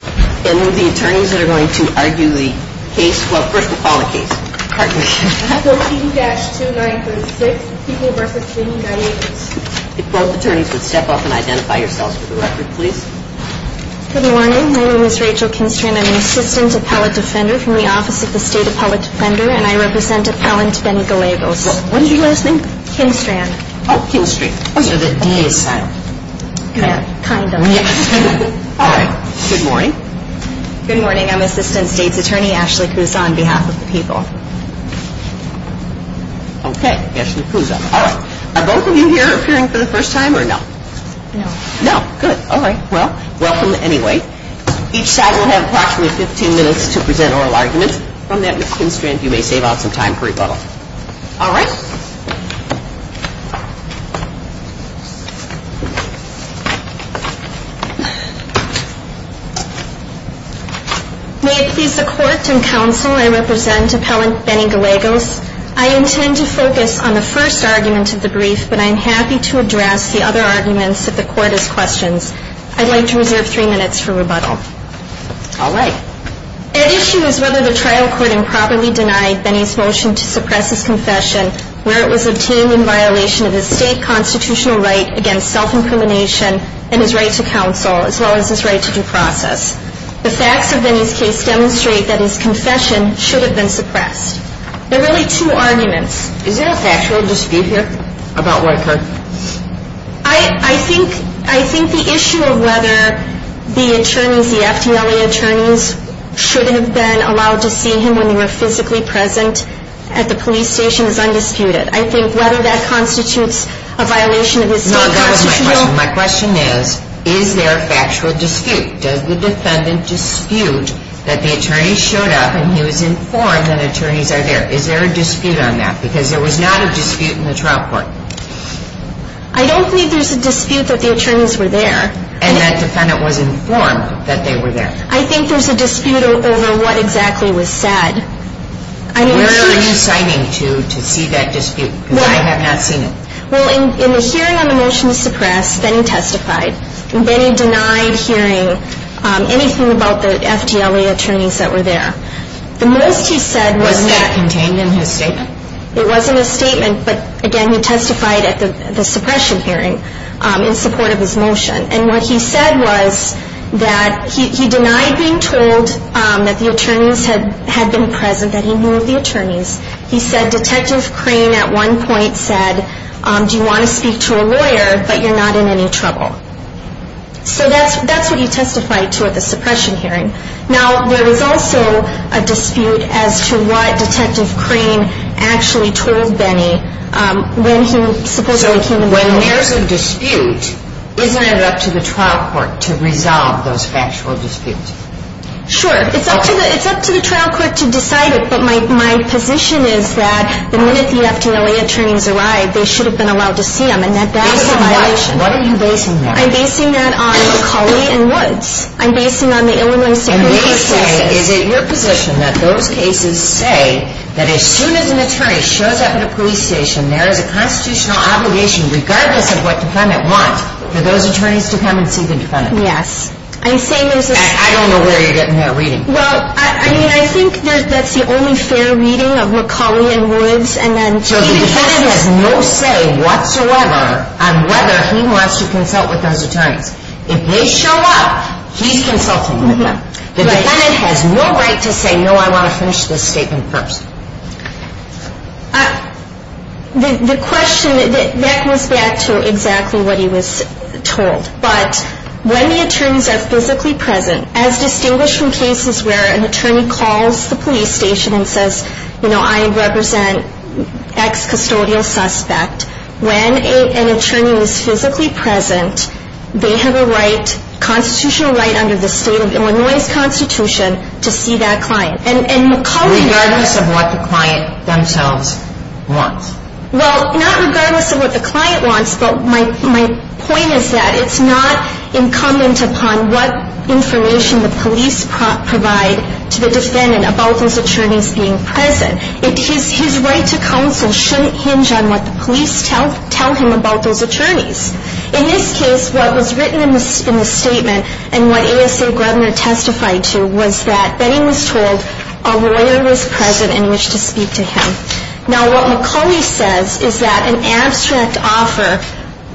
And who are the attorneys that are going to argue the case? Well, first we'll call the case. 13-2936, People v. King and Gallegos. If both attorneys would step up and identify yourselves for the record, please. Good morning. My name is Rachel Kinstrand. I'm an assistant appellate defender from the Office of the State Appellate Defender, and I represent Appellant Benny Gallegos. What was your last name? Kinstrand. Oh, Kinstrand. So the D is silent. Kind of. All right. Good morning. Good morning. I'm Assistant State's Attorney Ashley Kuzon on behalf of the People. Okay. Ashley Kuzon. All right. Are both of you here appearing for the first time or no? No. No. Good. All right. Well, welcome anyway. Each side will have approximately 15 minutes to present oral arguments. From that, Ms. Kinstrand, you may save out some time for rebuttal. All right. May it please the Court and Counsel, I represent Appellant Benny Gallegos. I intend to focus on the first argument of the brief, but I'm happy to address the other arguments if the Court has questions. I'd like to reserve three minutes for rebuttal. All right. At issue is whether the trial court improperly denied Benny's motion to suppress his confession where it was obtained in violation of his state constitutional right against self-incrimination and his right to counsel as well as his right to due process. The facts of Benny's case demonstrate that his confession should have been suppressed. There are really two arguments. Is there a factual dispute here about what occurred? I think the issue of whether the attorneys, the FTLA attorneys, should have been allowed to see him when they were physically present at the police station is undisputed. I think whether that constitutes a violation of his state constitutional. No, that was my question. My question is, is there a factual dispute? Does the defendant dispute that the attorney showed up and he was informed that attorneys are there? Is there a dispute on that? Because there was not a dispute in the trial court. I don't think there's a dispute that the attorneys were there. And that defendant was informed that they were there. I think there's a dispute over what exactly was said. Where are you citing to, to see that dispute? Because I have not seen it. Well, in the hearing on the motion to suppress, Benny testified. Benny denied hearing anything about the FTLA attorneys that were there. The most he said was that. Was that contained in his statement? It was in his statement, but again, he testified at the suppression hearing in support of his motion. And what he said was that he denied being told that the attorneys had been present, that he knew the attorneys. He said Detective Crane at one point said, do you want to speak to a lawyer, but you're not in any trouble. So that's what he testified to at the suppression hearing. Now, there was also a dispute as to what Detective Crane actually told Benny when he supposedly came in. So when there's a dispute, isn't it up to the trial court to resolve those factual disputes? Sure. It's up to the trial court to decide it. But my position is that the minute the FTLA attorneys arrived, they should have been allowed to see them. And that's a violation. Based on what? What are you basing that? I'm basing that on McCauley and Woods. I'm basing it on the Illinois Supreme Court case. Is it your position that those cases say that as soon as an attorney shows up at a police station, there is a constitutional obligation, regardless of what the defendant wants, for those attorneys to come and see the defendant? Yes. I don't know where you're getting that reading. Well, I mean, I think that's the only fair reading of McCauley and Woods. So the defendant has no say whatsoever on whether he wants to consult with those attorneys. If they show up, he's consulting with them. The defendant has no right to say, no, I want to finish this statement first. The question, that goes back to exactly what he was told. But when the attorneys are physically present, as distinguished from cases where an attorney calls the police station and says, you know, I represent an ex-custodial suspect, when an attorney is physically present, they have a constitutional right under the state of Illinois' constitution to see that client. Regardless of what the client themselves wants. Well, not regardless of what the client wants, but my point is that it's not incumbent upon what information the police provide to the defendant about those attorneys being present. His right to counsel shouldn't hinge on what the police tell him about those attorneys. In this case, what was written in the statement and what ASA Grubner testified to was that that he was told a lawyer was present and wished to speak to him. Now, what McCauley says is that an abstract offer,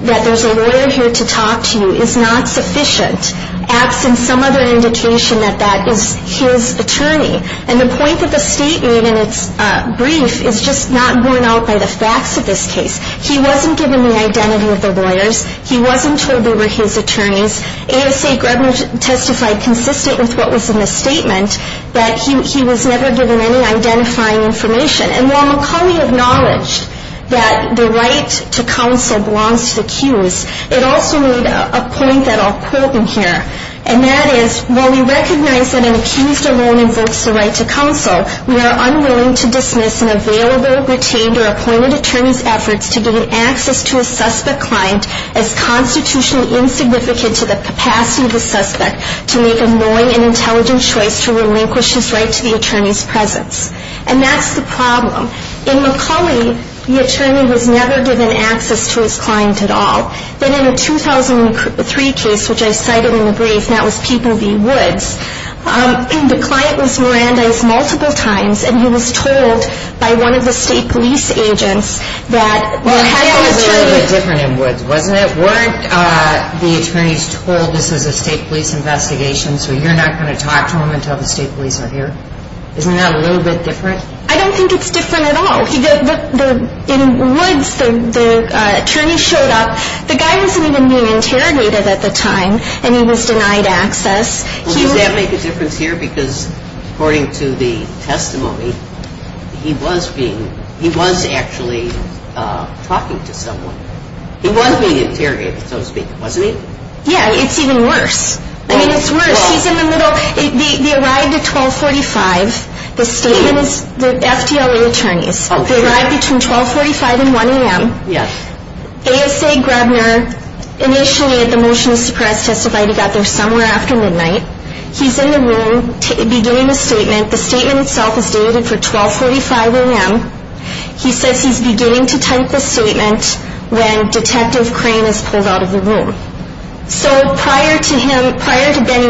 that there's a lawyer here to talk to you, is not sufficient. Absent some other indication that that is his attorney. And the point that the state made in its brief is just not borne out by the facts of this case. He wasn't given the identity of the lawyers. He wasn't told they were his attorneys. ASA Grubner testified consistent with what was in the statement, that he was never given any identifying information. And while McCauley acknowledged that the right to counsel belongs to the accused, it also made a point that I'll quote in here. And that is, while we recognize that an accused alone invokes the right to counsel, we are unwilling to dismiss an available, retained, or appointed attorney's efforts to gain access to a suspect client as constitutionally insignificant to the capacity of the suspect to make a knowing and intelligent choice to relinquish his right to the attorney's presence. And that's the problem. In McCauley, the attorney was never given access to his client at all. Then in a 2003 case, which I cited in the brief, and that was People v. Woods, the client was Mirandized multiple times, and he was told by one of the state police agents that Well, that was very different in Woods, wasn't it? Weren't the attorneys told this is a state police investigation, so you're not going to talk to them until the state police are here? Isn't that a little bit different? I don't think it's different at all. In Woods, the attorney showed up. The guy wasn't even being interrogated at the time, and he was denied access. Well, does that make a difference here? Because according to the testimony, he was actually talking to someone. He was being interrogated, so to speak, wasn't he? Yeah, it's even worse. I mean, it's worse. He's in the middle. So they arrived at 1245. The statements, the FDLA attorneys, they arrived between 1245 and 1 a.m. ASA Grebner, initially at the motion to suppress testified he got there somewhere after midnight. He's in the room beginning the statement. The statement itself is dated for 1245 a.m. He says he's beginning to type the statement when Detective Crane is pulled out of the room. So prior to him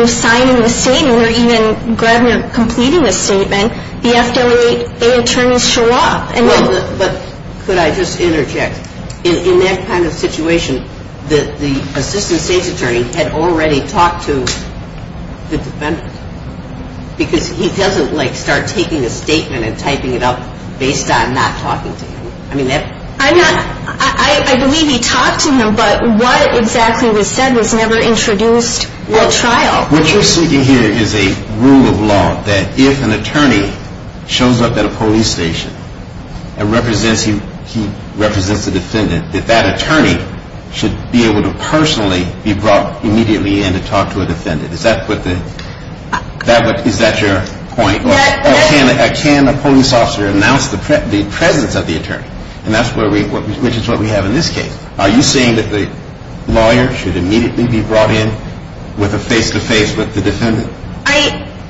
signing the statement or even Grebner completing the statement, the FDLA attorneys show up. But could I just interject? In that kind of situation, the assistant state's attorney had already talked to the defendant because he doesn't, like, start taking a statement and typing it up based on not talking to him. I believe he talked to him, but what exactly was said was never introduced at trial. What you're seeking here is a rule of law that if an attorney shows up at a police station and represents a defendant, that that attorney should be able to personally be brought immediately in to talk to a defendant. Is that your point? Can a police officer announce the presence of the attorney, which is what we have in this case? Are you saying that the lawyer should immediately be brought in with a face-to-face with the defendant?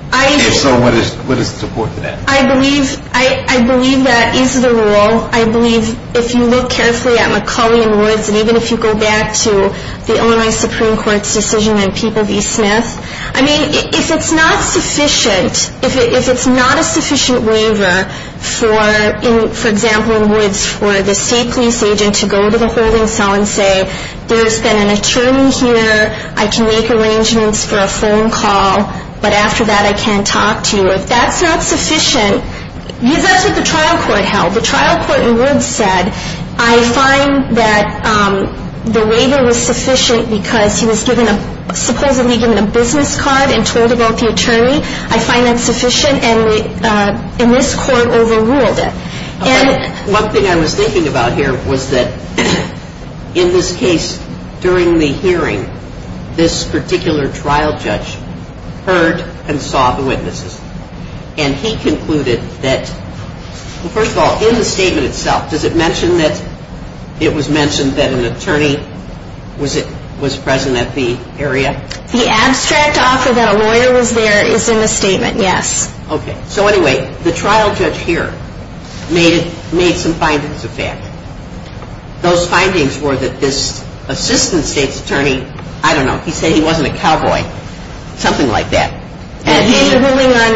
And so what is the support for that? I believe that is the rule. I believe if you look carefully at McCauley and Woods, and even if you go back to the ONI Supreme Court's decision on People v. Smith, I mean, if it's not sufficient, if it's not a sufficient waiver for, for example, Woods, for the state police agent to go to the holding cell and say, there's been an attorney here, I can make arrangements for a phone call, but after that I can't talk to you. If that's not sufficient, because that's what the trial court held. The trial court in Woods said, I find that the waiver was sufficient because he was supposedly given a business card and told about the attorney. I find that sufficient, and this court overruled it. One thing I was thinking about here was that in this case, during the hearing, this particular trial judge heard and saw the witnesses, and he concluded that, well, first of all, in the statement itself, does it mention that it was mentioned that an attorney was present at the area? The abstract offer that a lawyer was there is in the statement, yes. Okay. So anyway, the trial judge here made some findings of that. Those findings were that this assistant state's attorney, I don't know, he said he wasn't a cowboy, something like that. In the ruling on,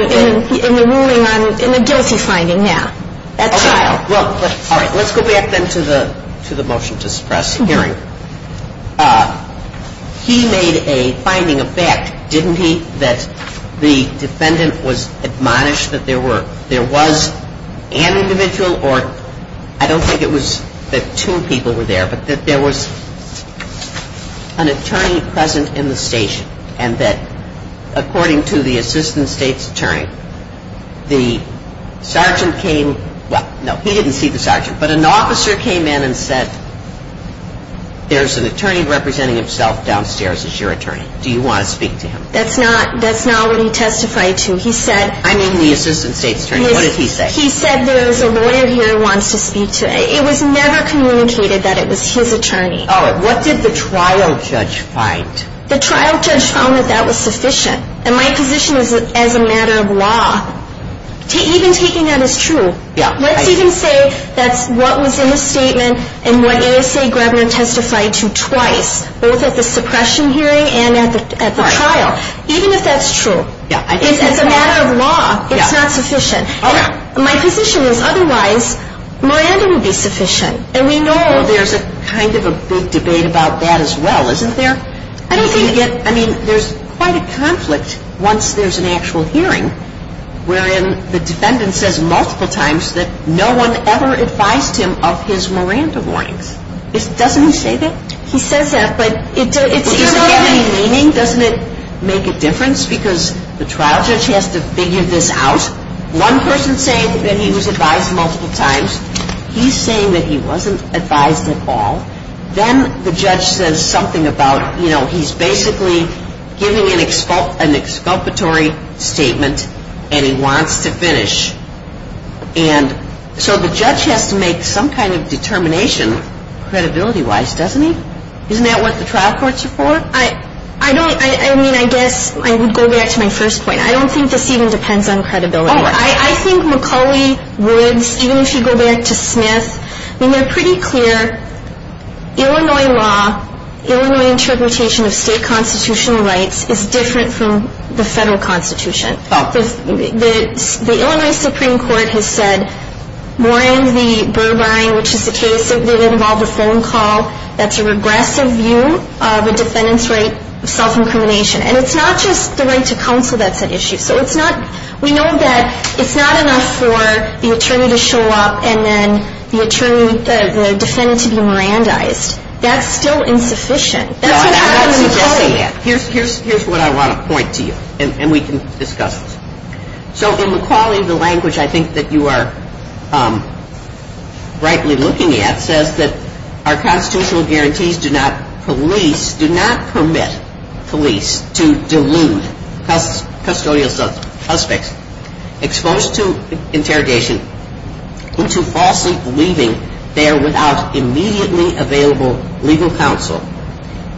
in the ruling on, in the guilty finding, yeah. All right. Let's go back then to the motion to suppress the hearing. He made a finding of fact, didn't he, that the defendant was admonished that there were, there was an individual or, I don't think it was that two people were there, but that there was an attorney present in the station, and that according to the assistant state's attorney, the sergeant came, well, no, he didn't see the sergeant, but an officer came in and said, there's an attorney representing himself downstairs as your attorney. Do you want to speak to him? That's not, that's not what he testified to. He said, I mean the assistant state's attorney, what did he say? He said there's a lawyer here who wants to speak to, it was never communicated that it was his attorney. All right. What did the trial judge find? The trial judge found that that was sufficient. And my position is that as a matter of law, even taking that as true, let's even say that's what was in the statement and what ASA Grabner testified to twice, both at the suppression hearing and at the trial, even if that's true, as a matter of law, it's not sufficient. My position is otherwise, Miranda would be sufficient. And we know there's a kind of a big debate about that as well, isn't there? I mean, there's quite a conflict once there's an actual hearing, wherein the defendant says multiple times that no one ever advised him of his Miranda warnings. Doesn't he say that? He says that, but it's... Does it get any meaning? Doesn't it make a difference? Because the trial judge has to figure this out. One person said that he was advised multiple times. He's saying that he wasn't advised at all. Then the judge says something about, you know, he's basically giving an exculpatory statement and he wants to finish. And so the judge has to make some kind of determination credibility-wise, doesn't he? Isn't that what the trial courts are for? I don't... I mean, I guess I would go back to my first point. I don't think this even depends on credibility. Oh, I think McCauley would, even if you go back to Smith... It's pretty clear Illinois law, Illinois interpretation of state constitutional rights is different from the federal constitution. The Illinois Supreme Court has said more in the Burr line, which is the case that involved a phone call that's a regressive view of a defendant's right of self-incrimination. And it's not just the right to counsel that's at issue. So it's not... we know that it's not enough for the attorney to show up and then the attorney... the defendant to be Mirandized. That's still insufficient. No, I'm not suggesting that. Here's what I want to point to you, and we can discuss this. So in McCauley, the language I think that you are rightly looking at says that our constitutional guarantees do not police... do not permit police to delude custodial suspects exposed to interrogation into falsely believing they are without immediately available legal counsel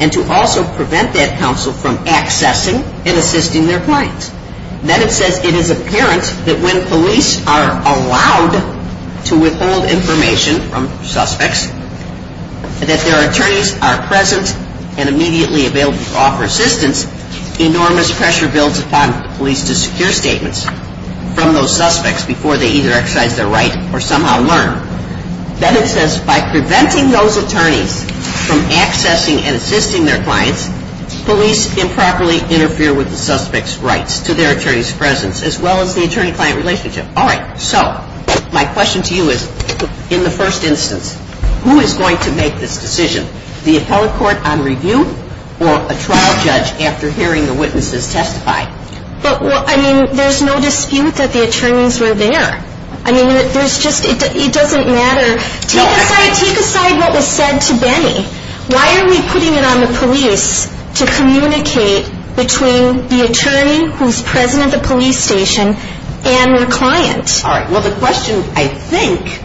and to also prevent that counsel from accessing and assisting their clients. Then it says it is apparent that when police are allowed to withhold information from suspects, that their attorneys are present and immediately available to offer assistance, enormous pressure builds upon police to secure statements from those suspects before they either exercise their right or somehow learn. Then it says by preventing those attorneys from accessing and assisting their clients, police improperly interfere with the suspect's rights to their attorney's presence as well as the attorney-client relationship. All right. So my question to you is, in the first instance, who is going to make this decision? The appellate court on review or a trial judge after hearing the witnesses testify? But what... I mean, there's no dispute that the attorneys were there. I mean, there's just... it doesn't matter. Take aside... take aside what was said to Benny. Why are we putting it on the police to communicate between the attorney who is present at the police station and their client? All right. Well, the question, I think,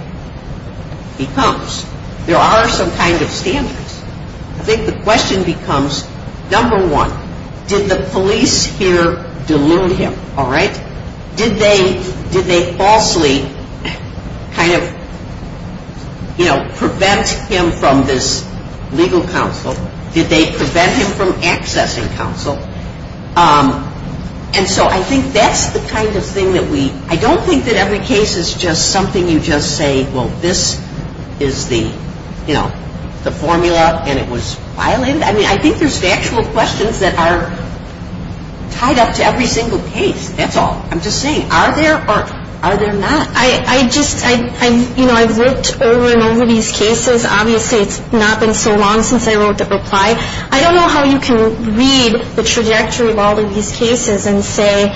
becomes there are some kind of standards. I think the question becomes, number one, did the police here delude him? All right. Did they falsely kind of prevent him from this legal counsel? Did they prevent him from accessing counsel? And so I think that's the kind of thing that we... I don't think that every case is just something you just say, well, this is the formula and it was violated. I mean, I think there's factual questions that are tied up to every single case. That's all. I'm just saying, are there or are there not? I just... you know, I've looked over and over these cases. Obviously, it's not been so long since I wrote the reply. I don't know how you can read the trajectory of all of these cases and say,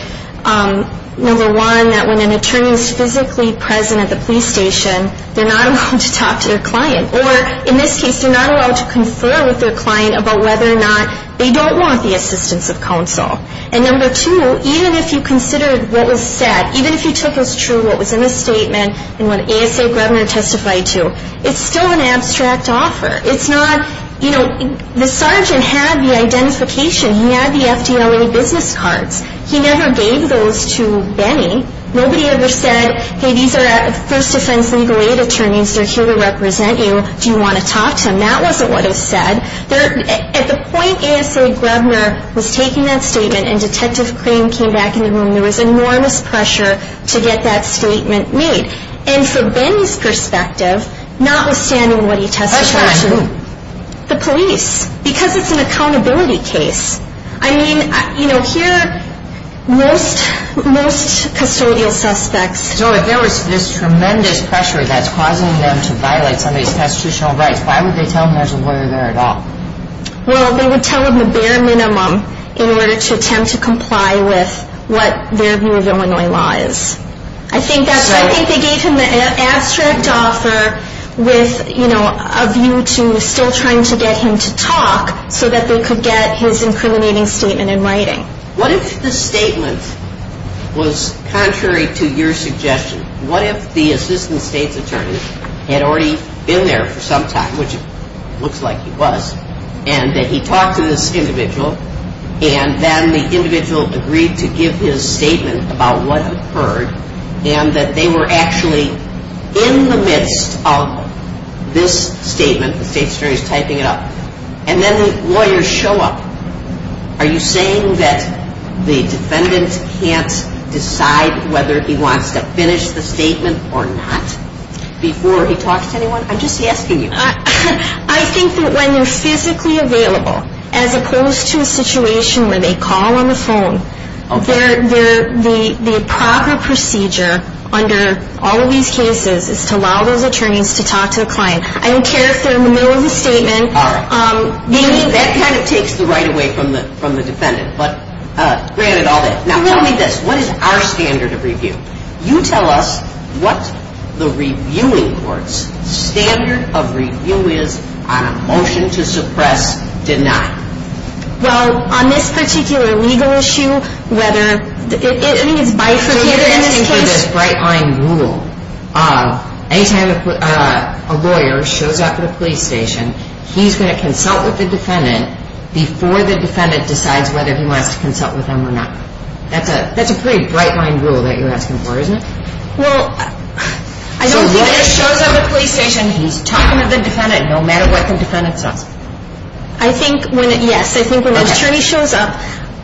number one, that when an attorney is physically present at the police station, they're not allowed to talk to their client. Or, in this case, they're not allowed to confer with their client about whether or not they don't want the assistance of counsel. And, number two, even if you considered what was said, even if you took as true what was in the statement and what ASA Grebner testified to, it's still an abstract offer. It's not... you know, the sergeant had the identification. He had the FDLA business cards. He never gave those to Benny. Nobody ever said, hey, these are first defense legal aid attorneys. They're here to represent you. Do you want to talk to them? That wasn't what it said. At the point ASA Grebner was taking that statement and Detective Crane came back in the room, there was enormous pressure to get that statement made. And from Benny's perspective, notwithstanding what he testified to... At that time, who? The police. Because it's an accountability case. I mean, you know, here, most custodial suspects... So if there was this tremendous pressure that's causing them to violate somebody's constitutional rights, why would they tell him there's a lawyer there at all? Well, they would tell him the bare minimum in order to attempt to comply with what their view of Illinois law is. I think that's... So... I think they gave him the abstract offer with, you know, a view to still trying to get him to talk so that they could get his incriminating statement in writing. What if the statement was contrary to your suggestion? What if the assistant state's attorney had already been there for some time, which it looks like he was, and that he talked to this individual and then the individual agreed to give his statement about what occurred and that they were actually in the midst of this statement, the state's attorney's typing it up, and then the lawyers show up? Are you saying that the defendant can't decide whether he wants to finish the statement or not before he talks to anyone? I'm just asking you. I think that when they're physically available, as opposed to a situation where they call on the phone, the proper procedure under all of these cases is to allow those attorneys to talk to the client. I don't care if they're in the middle of the statement. All right. That kind of takes the right away from the defendant, but granted all that. Now, tell me this. What is our standard of review? You tell us what the reviewing court's standard of review is on a motion to suppress, deny. Well, on this particular legal issue, whether it is bifurcated in this case. You're asking for this bright-line rule. Anytime a lawyer shows up at a police station, he's going to consult with the defendant before the defendant decides whether he wants to consult with them or not. That's a pretty bright-line rule that you're asking for, isn't it? Well, I don't think that if a lawyer shows up at a police station, he's talking to the defendant no matter what the defendant says. Yes, I think when the attorney shows up,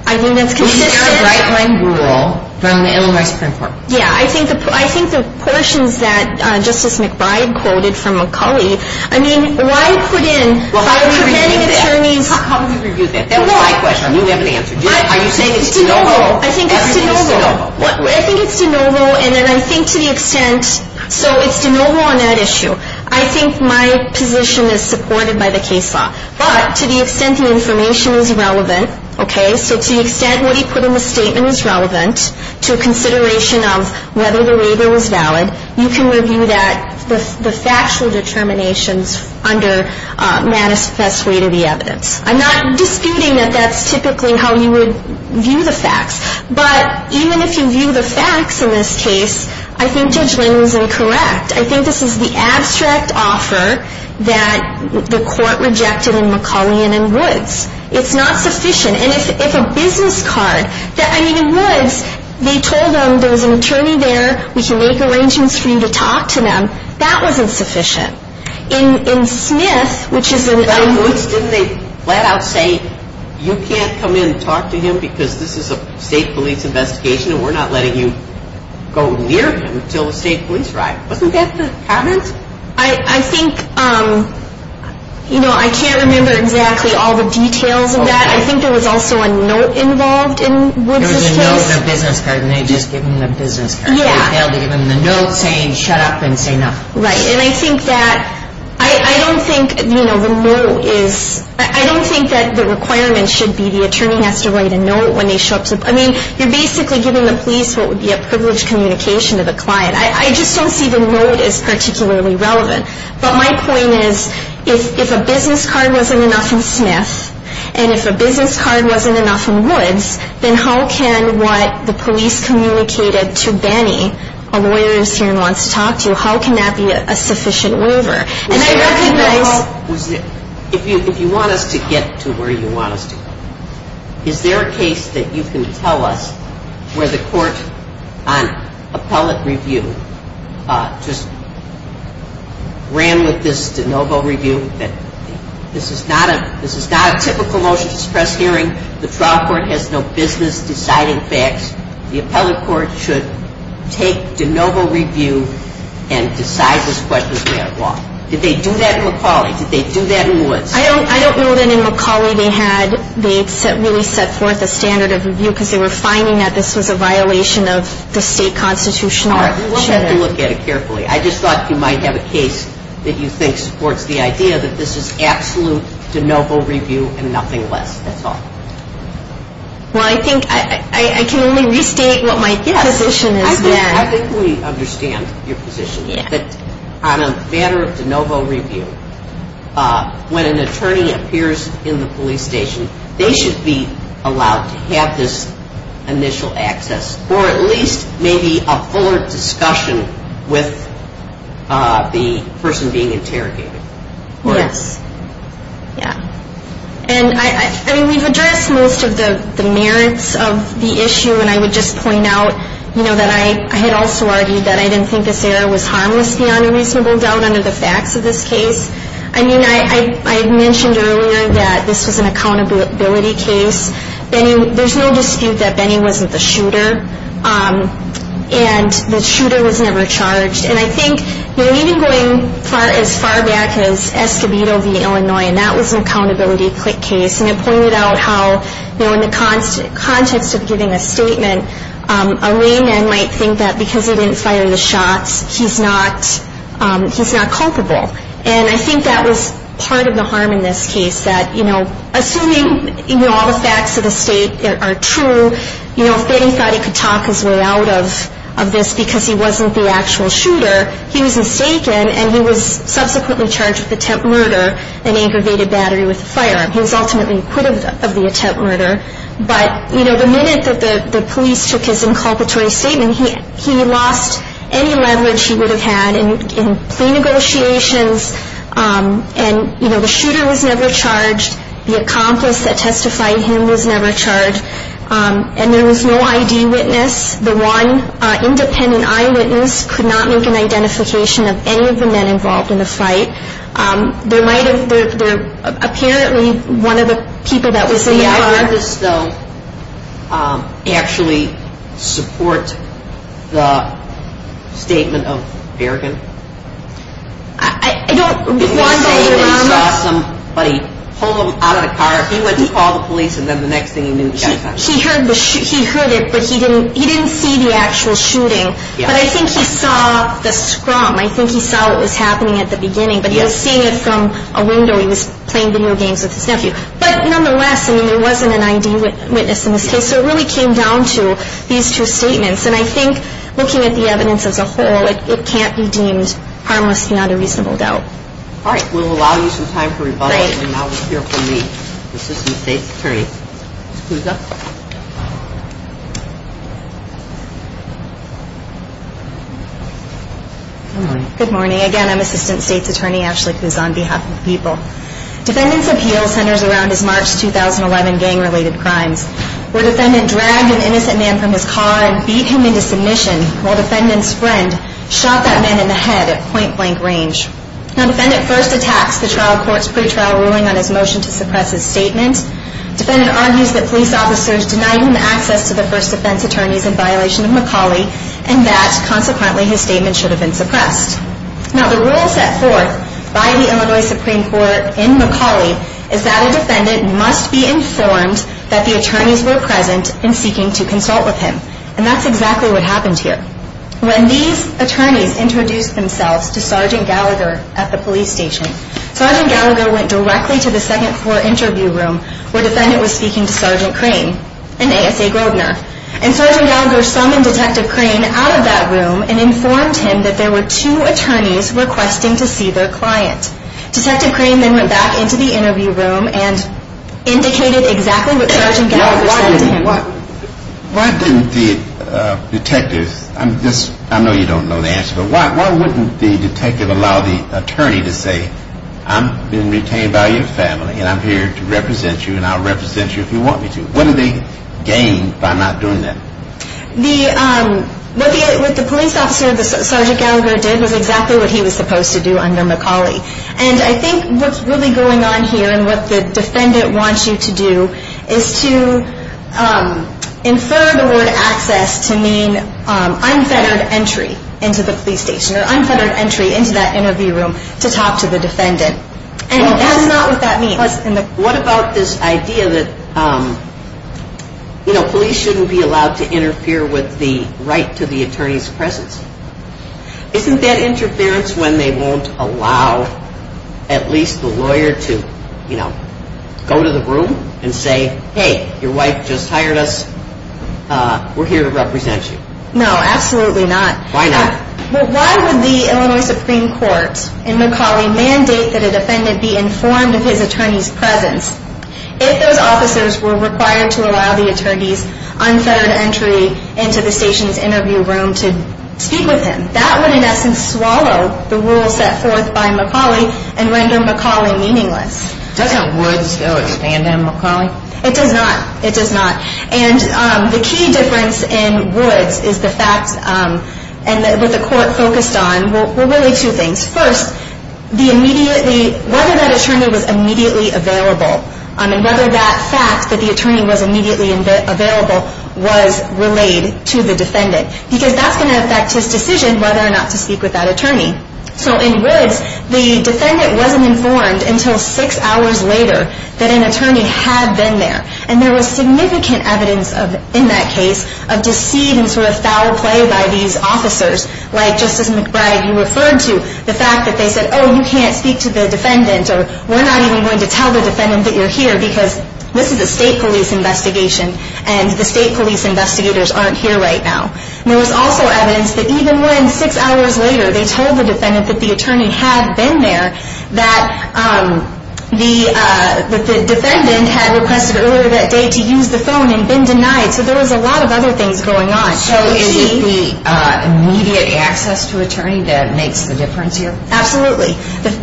I think that's consistent. We need a bright-line rule from the Illinois Supreme Court. Yeah, I think the portions that Justice McBride quoted from McCulley, I mean, why put in by preventing attorneys? Well, how do we review that? How do we review that? That was my question. I knew we have an answer. Are you saying it's de novo? I think it's de novo. Everything is de novo. I think it's de novo, and then I think to the extent so it's de novo on that issue. I think my position is supported by the case law. But to the extent the information is relevant, okay, so to the extent what he put in the statement is relevant to consideration of whether the waiver was valid, you can review that, the factual determinations, under Mattis' best read of the evidence. I'm not disputing that that's typically how you would view the facts. But even if you view the facts in this case, I think Judge Lang was incorrect. I think this is the abstract offer that the court rejected in McCulley and in Woods. It's not sufficient. And if a business card, I mean, in Woods, they told him there was an attorney there, we can make arrangements for you to talk to them. That wasn't sufficient. In Smith, which is in- In Woods, didn't they flat out say, you can't come in and talk to him because this is a state police investigation and we're not letting you go near him until the state police arrive. Wasn't that the comments? I think, you know, I can't remember exactly all the details of that. I think there was also a note involved in Woods' case. There was a note and a business card, and they just gave him the business card. Yeah. They gave him the note saying shut up and say nothing. Right. And I think that I don't think, you know, the note is- I don't think that the requirement should be the attorney has to write a note when they show up to- I mean, you're basically giving the police what would be a privileged communication to the client. I just don't see the note as particularly relevant. But my point is, if a business card wasn't enough in Smith, and if a business card wasn't enough in Woods, then how can what the police communicated to Benny, a lawyer who's here and wants to talk to you, how can that be a sufficient waiver? And I recognize- If you want us to get to where you want us to go, is there a case that you can tell us where the court on appellate review just ran with this de novo review that this is not a typical motion to suppress hearing, the trial court has no business deciding facts, the appellate court should take de novo review and decide this question as a matter of law. Did they do that in McCauley? Did they do that in Woods? I don't know that in McCauley they had- they really set forth a standard of review because they were finding that this was a violation of the state constitution. All right. We'll have to look at it carefully. I just thought you might have a case that you think supports the idea that this is absolute de novo review and nothing less. That's all. Well, I think I can only restate what my position is there. I think we understand your position, that on a matter of de novo review, when an attorney appears in the police station, they should be allowed to have this initial access, or at least maybe a fuller discussion with the person being interrogated. Yes. Yeah. And I mean, we've addressed most of the merits of the issue, and I would just point out, you know, that I had also argued that I didn't think this error was harmless beyond a reasonable doubt under the facts of this case. I mean, I had mentioned earlier that this was an accountability case. There's no dispute that Benny wasn't the shooter, and the shooter was never charged. And I think, you know, even going as far back as Escobedo v. Illinois, and that was an accountability case, and it pointed out how, you know, in the context of giving a statement, a layman might think that because he didn't fire the shots, he's not culpable. And I think that was part of the harm in this case, that, you know, assuming, you know, all the facts of the state are true, you know, if Benny thought he could talk his way out of this because he wasn't the actual shooter, he was mistaken, and he was subsequently charged with attempt murder and aggravated battery with a firearm. He was ultimately acquitted of the attempt murder. But, you know, the minute that the police took his inculpatory statement, he lost any leverage he would have had in plea negotiations. And, you know, the shooter was never charged. The accomplice that testified him was never charged. And there was no I.D. witness. The one independent eyewitness could not make an identification of any of the men involved in the fight. There might have been, apparently, one of the people that was in the car. Did the eyewitness, though, actually support the statement of Bergen? I don't want to say that he saw somebody pull him out of the car. He went to call the police, and then the next thing he knew, he got caught. He heard it, but he didn't see the actual shooting. But I think he saw the scrum. I think he saw what was happening at the beginning. But he was seeing it from a window. He was playing video games with his nephew. But nonetheless, I mean, there wasn't an I.D. witness in this case. So it really came down to these two statements. And I think looking at the evidence as a whole, it can't be deemed harmless and not a reasonable doubt. All right. We'll allow you some time for rebuttal. Thank you. And now we'll hear from me, Assistant State's Attorney. Excuse us. Good morning. Good morning. Again, I'm Assistant State's Attorney Ashley Kuz on behalf of the people. Defendant's appeal centers around his March 2011 gang-related crimes, where defendant dragged an innocent man from his car and beat him into submission while defendant's friend shot that man in the head at point-blank range. Now, defendant first attacks the trial court's pretrial ruling on his motion to suppress his statement. Defendant argues that police officers denied him access to the first defense attorneys in violation of McCauley and that, consequently, his statement should have been suppressed. Now, the rule set forth by the Illinois Supreme Court in McCauley is that a defendant must be informed that the attorneys were present and seeking to consult with him. And that's exactly what happened here. When these attorneys introduced themselves to Sergeant Gallagher at the police station, Sergeant Gallagher went directly to the second floor interview room where defendant was speaking to Sergeant Crane and ASA Grosvenor. And Sergeant Gallagher summoned Detective Crane out of that room and informed him that there were two attorneys requesting to see their client. Detective Crane then went back into the interview room and indicated exactly what Sergeant Gallagher said to him. Now, why didn't the detectives, I know you don't know the answer, but why wouldn't the detective allow the attorney to say, I'm being retained by your family and I'm here to represent you and I'll represent you if you want me to. What do they gain by not doing that? What the police officer, Sergeant Gallagher, did was exactly what he was supposed to do under McCauley. And I think what's really going on here and what the defendant wants you to do is to infer the word access to mean unfettered entry into the police station or unfettered entry into that interview room to talk to the defendant. And that's not what that means. What about this idea that police shouldn't be allowed to interfere with the right to the attorney's presence? Isn't that interference when they won't allow at least the lawyer to go to the room and say, hey, your wife just hired us, we're here to represent you. No, absolutely not. Why not? Why would the Illinois Supreme Court in McCauley mandate that a defendant be informed of his attorney's presence if those officers were required to allow the attorney's unfettered entry into the station's interview room to speak with him? That would in essence swallow the rules set forth by McCauley and render McCauley meaningless. Doesn't Woods, though, abandon McCauley? It does not. It does not. And the key difference in Woods is the fact and what the court focused on were really two things. First, whether that attorney was immediately available and whether that fact that the attorney was immediately available was relayed to the defendant because that's going to affect his decision whether or not to speak with that attorney. So in Woods, the defendant wasn't informed until six hours later that an attorney had been there. And there was significant evidence in that case of deceit and sort of foul play by these officers. Like Justice McBride, you referred to the fact that they said, oh, you can't speak to the defendant or we're not even going to tell the defendant that you're here because this is a state police investigation and the state police investigators aren't here right now. There was also evidence that even when six hours later they told the defendant that the attorney had been there, that the defendant had requested earlier that day to use the phone and been denied. So there was a lot of other things going on. So is it the immediate access to attorney that makes the difference here? Absolutely.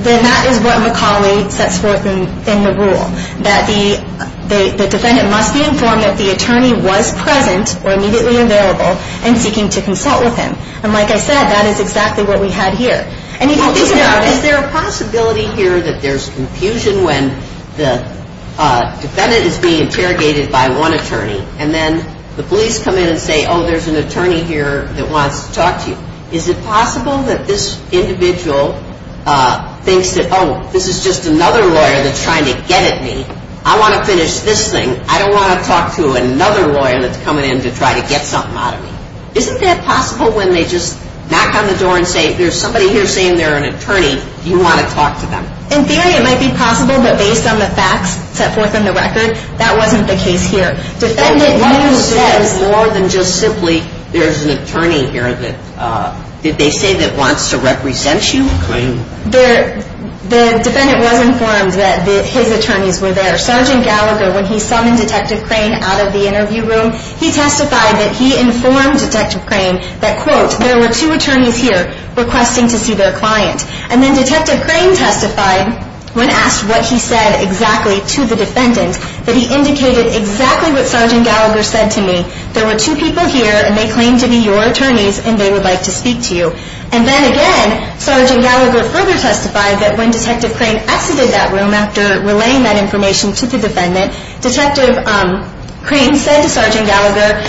Then that is what McCauley sets forth in the rule, that the defendant must be informed that the attorney was present or immediately available and seeking to consult with him. And like I said, that is exactly what we had here. And if you think about it- Is there a possibility here that there's confusion when the defendant is being interrogated by one attorney and then the police come in and say, oh, there's an attorney here that wants to talk to you. Is it possible that this individual thinks that, oh, this is just another lawyer that's trying to get at me. I want to finish this thing. I don't want to talk to another lawyer that's coming in to try to get something out of me. Isn't that possible when they just knock on the door and say, there's somebody here saying they're an attorney, do you want to talk to them? In theory it might be possible, but based on the facts set forth in the record, that wasn't the case here. More than just simply, there's an attorney here that, did they say that wants to represent you? The defendant was informed that his attorneys were there. Sergeant Gallagher, when he summoned Detective Crane out of the interview room, he testified that he informed Detective Crane that, quote, there were two attorneys here requesting to see their client. And then Detective Crane testified, when asked what he said exactly to the defendant, that he indicated exactly what Sergeant Gallagher said to me. There were two people here, and they claim to be your attorneys, and they would like to speak to you. And then again, Sergeant Gallagher further testified that when Detective Crane exited that room, after relaying that information to the defendant, Detective Crane said to Sergeant Gallagher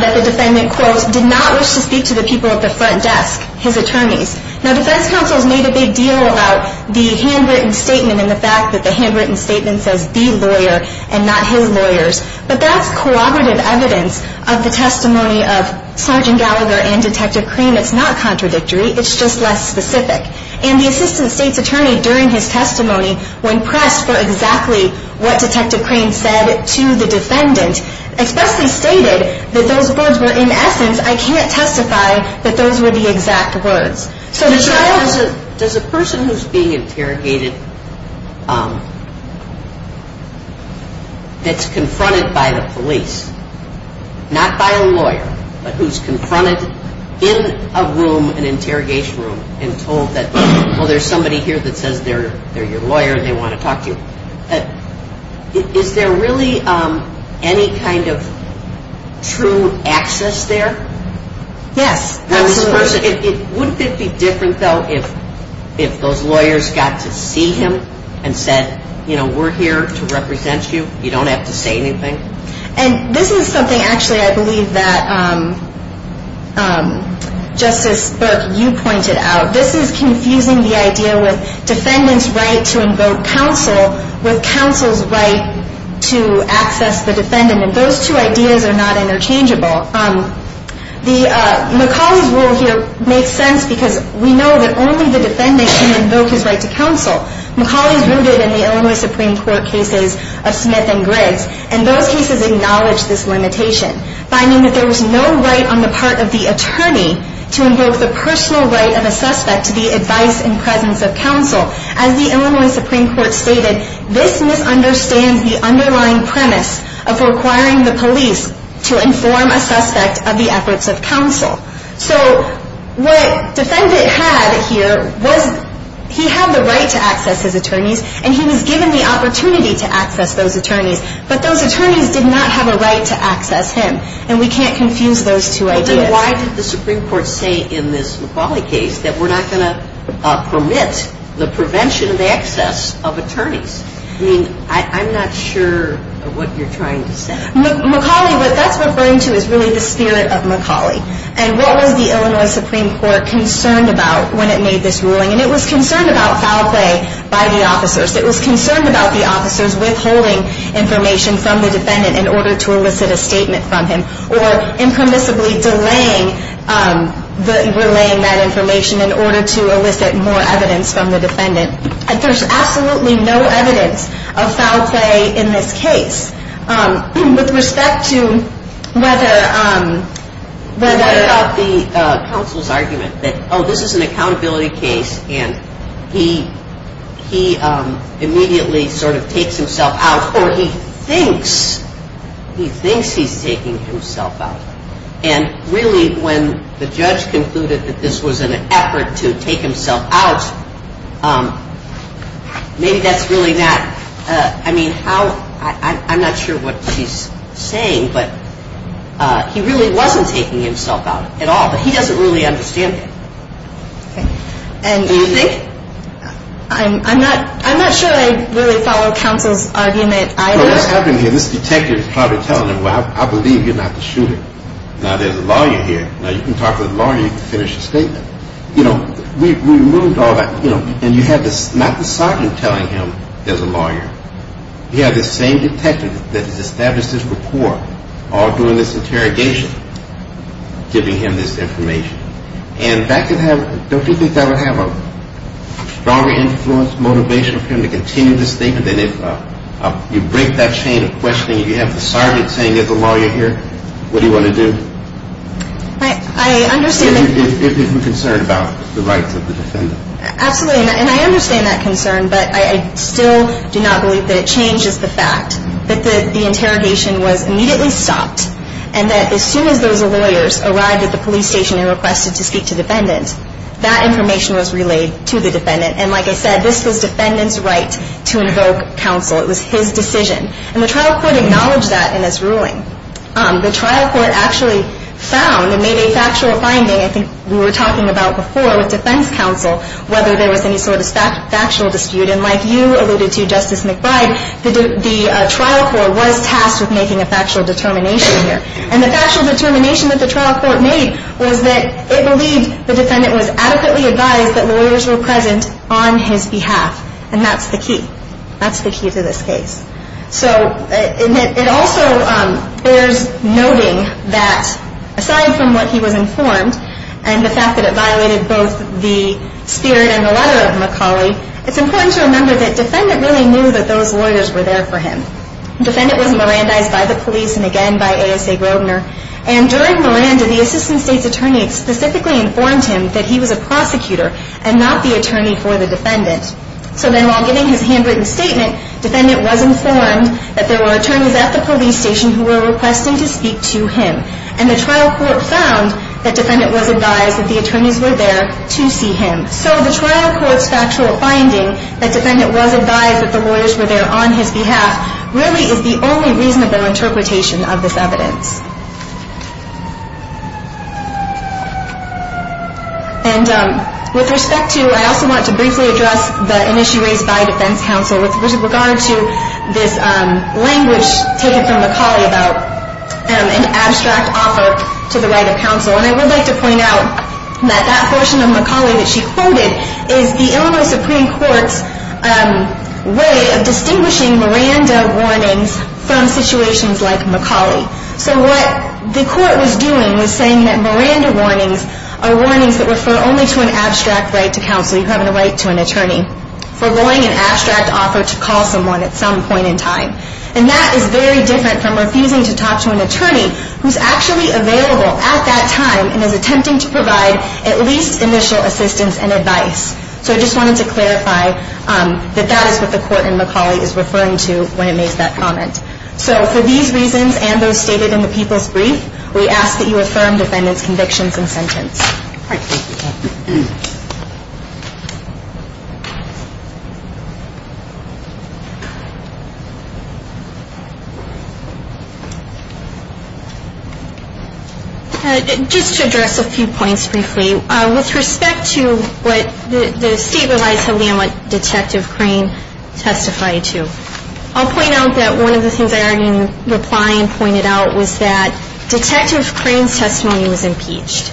that the defendant, quote, did not wish to speak to the people at the front desk, his attorneys. Now, defense counsels made a big deal about the handwritten statement and the fact that the handwritten statement says the lawyer and not his lawyers. But that's cooperative evidence of the testimony of Sergeant Gallagher and Detective Crane. It's not contradictory. It's just less specific. And the assistant state's attorney, during his testimony, when pressed for exactly what Detective Crane said to the defendant, especially stated that those words were, in essence, I can't testify that those were the exact words. Does a person who's being interrogated that's confronted by the police, not by a lawyer, but who's confronted in a room, an interrogation room, and told that, well, there's somebody here that says they're your lawyer and they want to talk to you, is there really any kind of true access there? Yes. Absolutely. Wouldn't it be different, though, if those lawyers got to see him and said, you know, we're here to represent you. You don't have to say anything. And this is something, actually, I believe that, Justice Burke, you pointed out. This is confusing the idea with defendant's right to invoke counsel with counsel's right to access the defendant. And those two ideas are not interchangeable. McCauley's rule here makes sense because we know that only the defendant can invoke his right to counsel. McCauley's rooted in the Illinois Supreme Court cases of Smith and Griggs, and those cases acknowledge this limitation, finding that there was no right on the part of the attorney to invoke the personal right of a suspect to be advised in presence of counsel. As the Illinois Supreme Court stated, this misunderstands the underlying premise of requiring the police to inform a suspect of the efforts of counsel. So what defendant had here was he had the right to access his attorneys and he was given the opportunity to access those attorneys, but those attorneys did not have a right to access him. And we can't confuse those two ideas. Why did the Supreme Court say in this McCauley case that we're not going to permit the prevention of access of attorneys? I mean, I'm not sure what you're trying to say. McCauley, what that's referring to is really the spirit of McCauley. And what was the Illinois Supreme Court concerned about when it made this ruling? And it was concerned about foul play by the officers. It was concerned about the officers withholding information from the defendant in order to elicit a statement from him or impermissibly delaying that information in order to elicit more evidence from the defendant. And there's absolutely no evidence of foul play in this case. With respect to whether... What about the counsel's argument that, oh, this is an accountability case and he immediately sort of takes himself out or he thinks he's taking himself out. And really when the judge concluded that this was an effort to take himself out, maybe that's really not... I mean, I'm not sure what he's saying, but he really wasn't taking himself out at all. But he doesn't really understand that. Do you think? I'm not sure I really follow counsel's argument either. Well, what's happening here, this detective is probably telling him, well, I believe you're not the shooter. Now, there's a lawyer here. Now, you can talk to the lawyer, you can finish the statement. You know, we removed all that. And you have not the sergeant telling him there's a lawyer. You have this same detective that has established this rapport all during this interrogation giving him this information. And don't you think that would have a stronger influence, motivation for him to continue the statement than if you break that chain of questioning. You have the sergeant saying there's a lawyer here. What do you want to do? I understand that. If he's concerned about the rights of the defendant. Absolutely. And I understand that concern, but I still do not believe that it changes the fact that the interrogation was immediately stopped and that as soon as those lawyers arrived at the police station and requested to speak to the defendant, that information was relayed to the defendant. And like I said, this was defendant's right to invoke counsel. It was his decision. And the trial court acknowledged that in its ruling. The trial court actually found and made a factual finding, I think we were talking about before with defense counsel, whether there was any sort of factual dispute. And like you alluded to, Justice McBride, the trial court was tasked with making a factual determination here. And the factual determination that the trial court made was that it believed the defendant was adequately advised that lawyers were present on his behalf. And that's the key. That's the key to this case. So it also bears noting that aside from what he was informed and the fact that it violated both the spirit and the letter of McCauley, it's important to remember that defendant really knew that those lawyers were there for him. Defendant was Mirandized by the police and again by ASA Grosvenor. And during Miranda, the assistant state's attorney specifically informed him that he was a prosecutor and not the attorney for the defendant. So then while giving his handwritten statement, defendant was informed that there were attorneys at the police station who were requesting to speak to him. And the trial court found that defendant was advised that the attorneys were there to see him. So the trial court's factual finding that defendant was advised that the lawyers were there on his behalf really is the only reasonable interpretation of this evidence. And with respect to, I also want to briefly address an issue raised by defense counsel with regard to this language taken from McCauley about an abstract offer to the right of counsel. And I would like to point out that that portion of McCauley that she quoted is the Illinois Supreme Court's way of distinguishing Miranda warnings from situations like McCauley. So what the court was doing was saying that Miranda warnings are warnings that refer only to an abstract right to counsel. You have a right to an attorney. Forgoing an abstract offer to call someone at some point in time. And that is very different from refusing to talk to an attorney who's actually available at that time and is attempting to provide at least initial assistance and advice. So I just wanted to clarify that that is what the court in McCauley is referring to when it made that comment. So for these reasons and those stated in the People's Brief, we ask that you affirm defendant's convictions and sentence. All right. Just to address a few points briefly. With respect to what the state relies heavily on what Detective Crane testified to. I'll point out that one of the things I already replied and pointed out was that Detective Crane's testimony was impeached.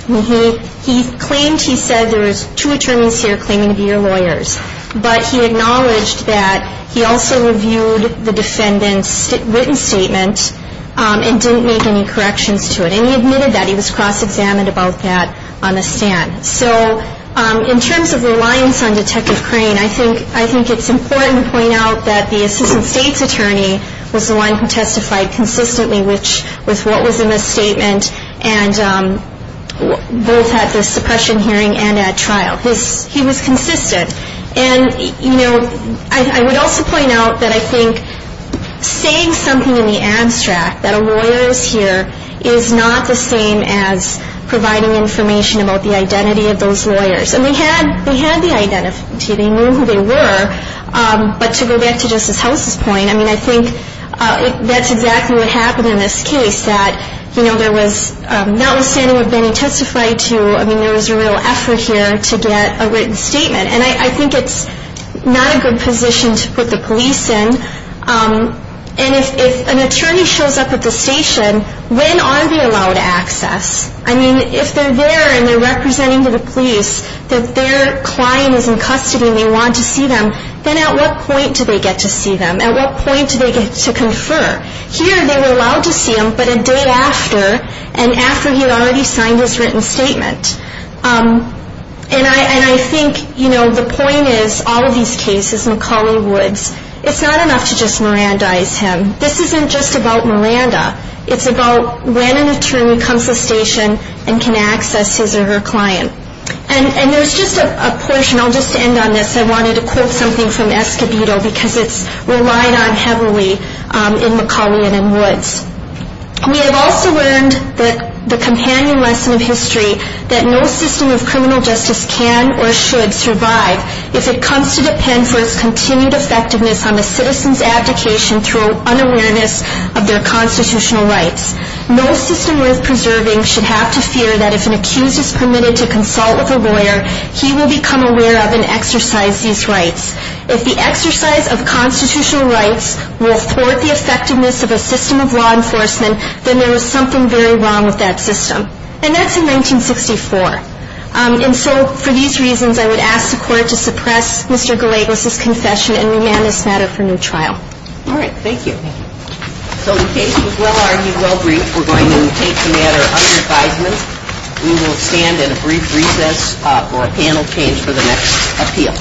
He claimed he said there was two attorneys here claiming to be your lawyers. But he acknowledged that he also reviewed the defendant's written statement and didn't make any corrections to it. And he admitted that. He was cross-examined about that on the stand. So in terms of reliance on Detective Crane, I think it's important to point out that the assistant state's attorney was the one who testified consistently with what was in the statement and both at the suppression hearing and at trial. He was consistent. And, you know, I would also point out that I think saying something in the abstract that a lawyer is here is not the same as providing information about the identity of those lawyers. And they had the identity. They knew who they were. But to go back to Justice House's point, I mean, I think that's exactly what happened in this case, that, you know, there was notwithstanding what Benny testified to, I mean, there was a real effort here to get a written statement. And I think it's not a good position to put the police in. And if an attorney shows up at the station, when are they allowed access? I mean, if they're there and they're representing to the police that their client is in custody and they want to see them, then at what point do they get to see them? At what point do they get to confer? Here they were allowed to see him, but a day after, and after he had already signed his written statement. And I think, you know, the point is, all of these cases, McCauley Woods, it's not enough to just Mirandize him. This isn't just about Miranda. It's about when an attorney comes to the station and can access his or her client. And there's just a portion. I'll just end on this. I wanted to quote something from Escobedo, because it's relied on heavily in McCauley and in Woods. We have also learned that the companion lesson of history, that no system of criminal justice can or should survive if it comes to depend for its continued effectiveness on the citizen's abdication through unawareness of their constitutional rights. No system worth preserving should have to fear that if an accused is permitted to consult with a lawyer, he will become aware of and exercise these rights. If the exercise of constitutional rights will thwart the effectiveness of a system of law enforcement, then there is something very wrong with that system. And that's in 1964. And so, for these reasons, I would ask the Court to suppress Mr. Gallegos' confession and remand this matter for new trial. All right. Thank you. So the case was well-argued, well-briefed. We're going to take the matter under advisement. We will stand at a brief recess for a panel change for the next appeal.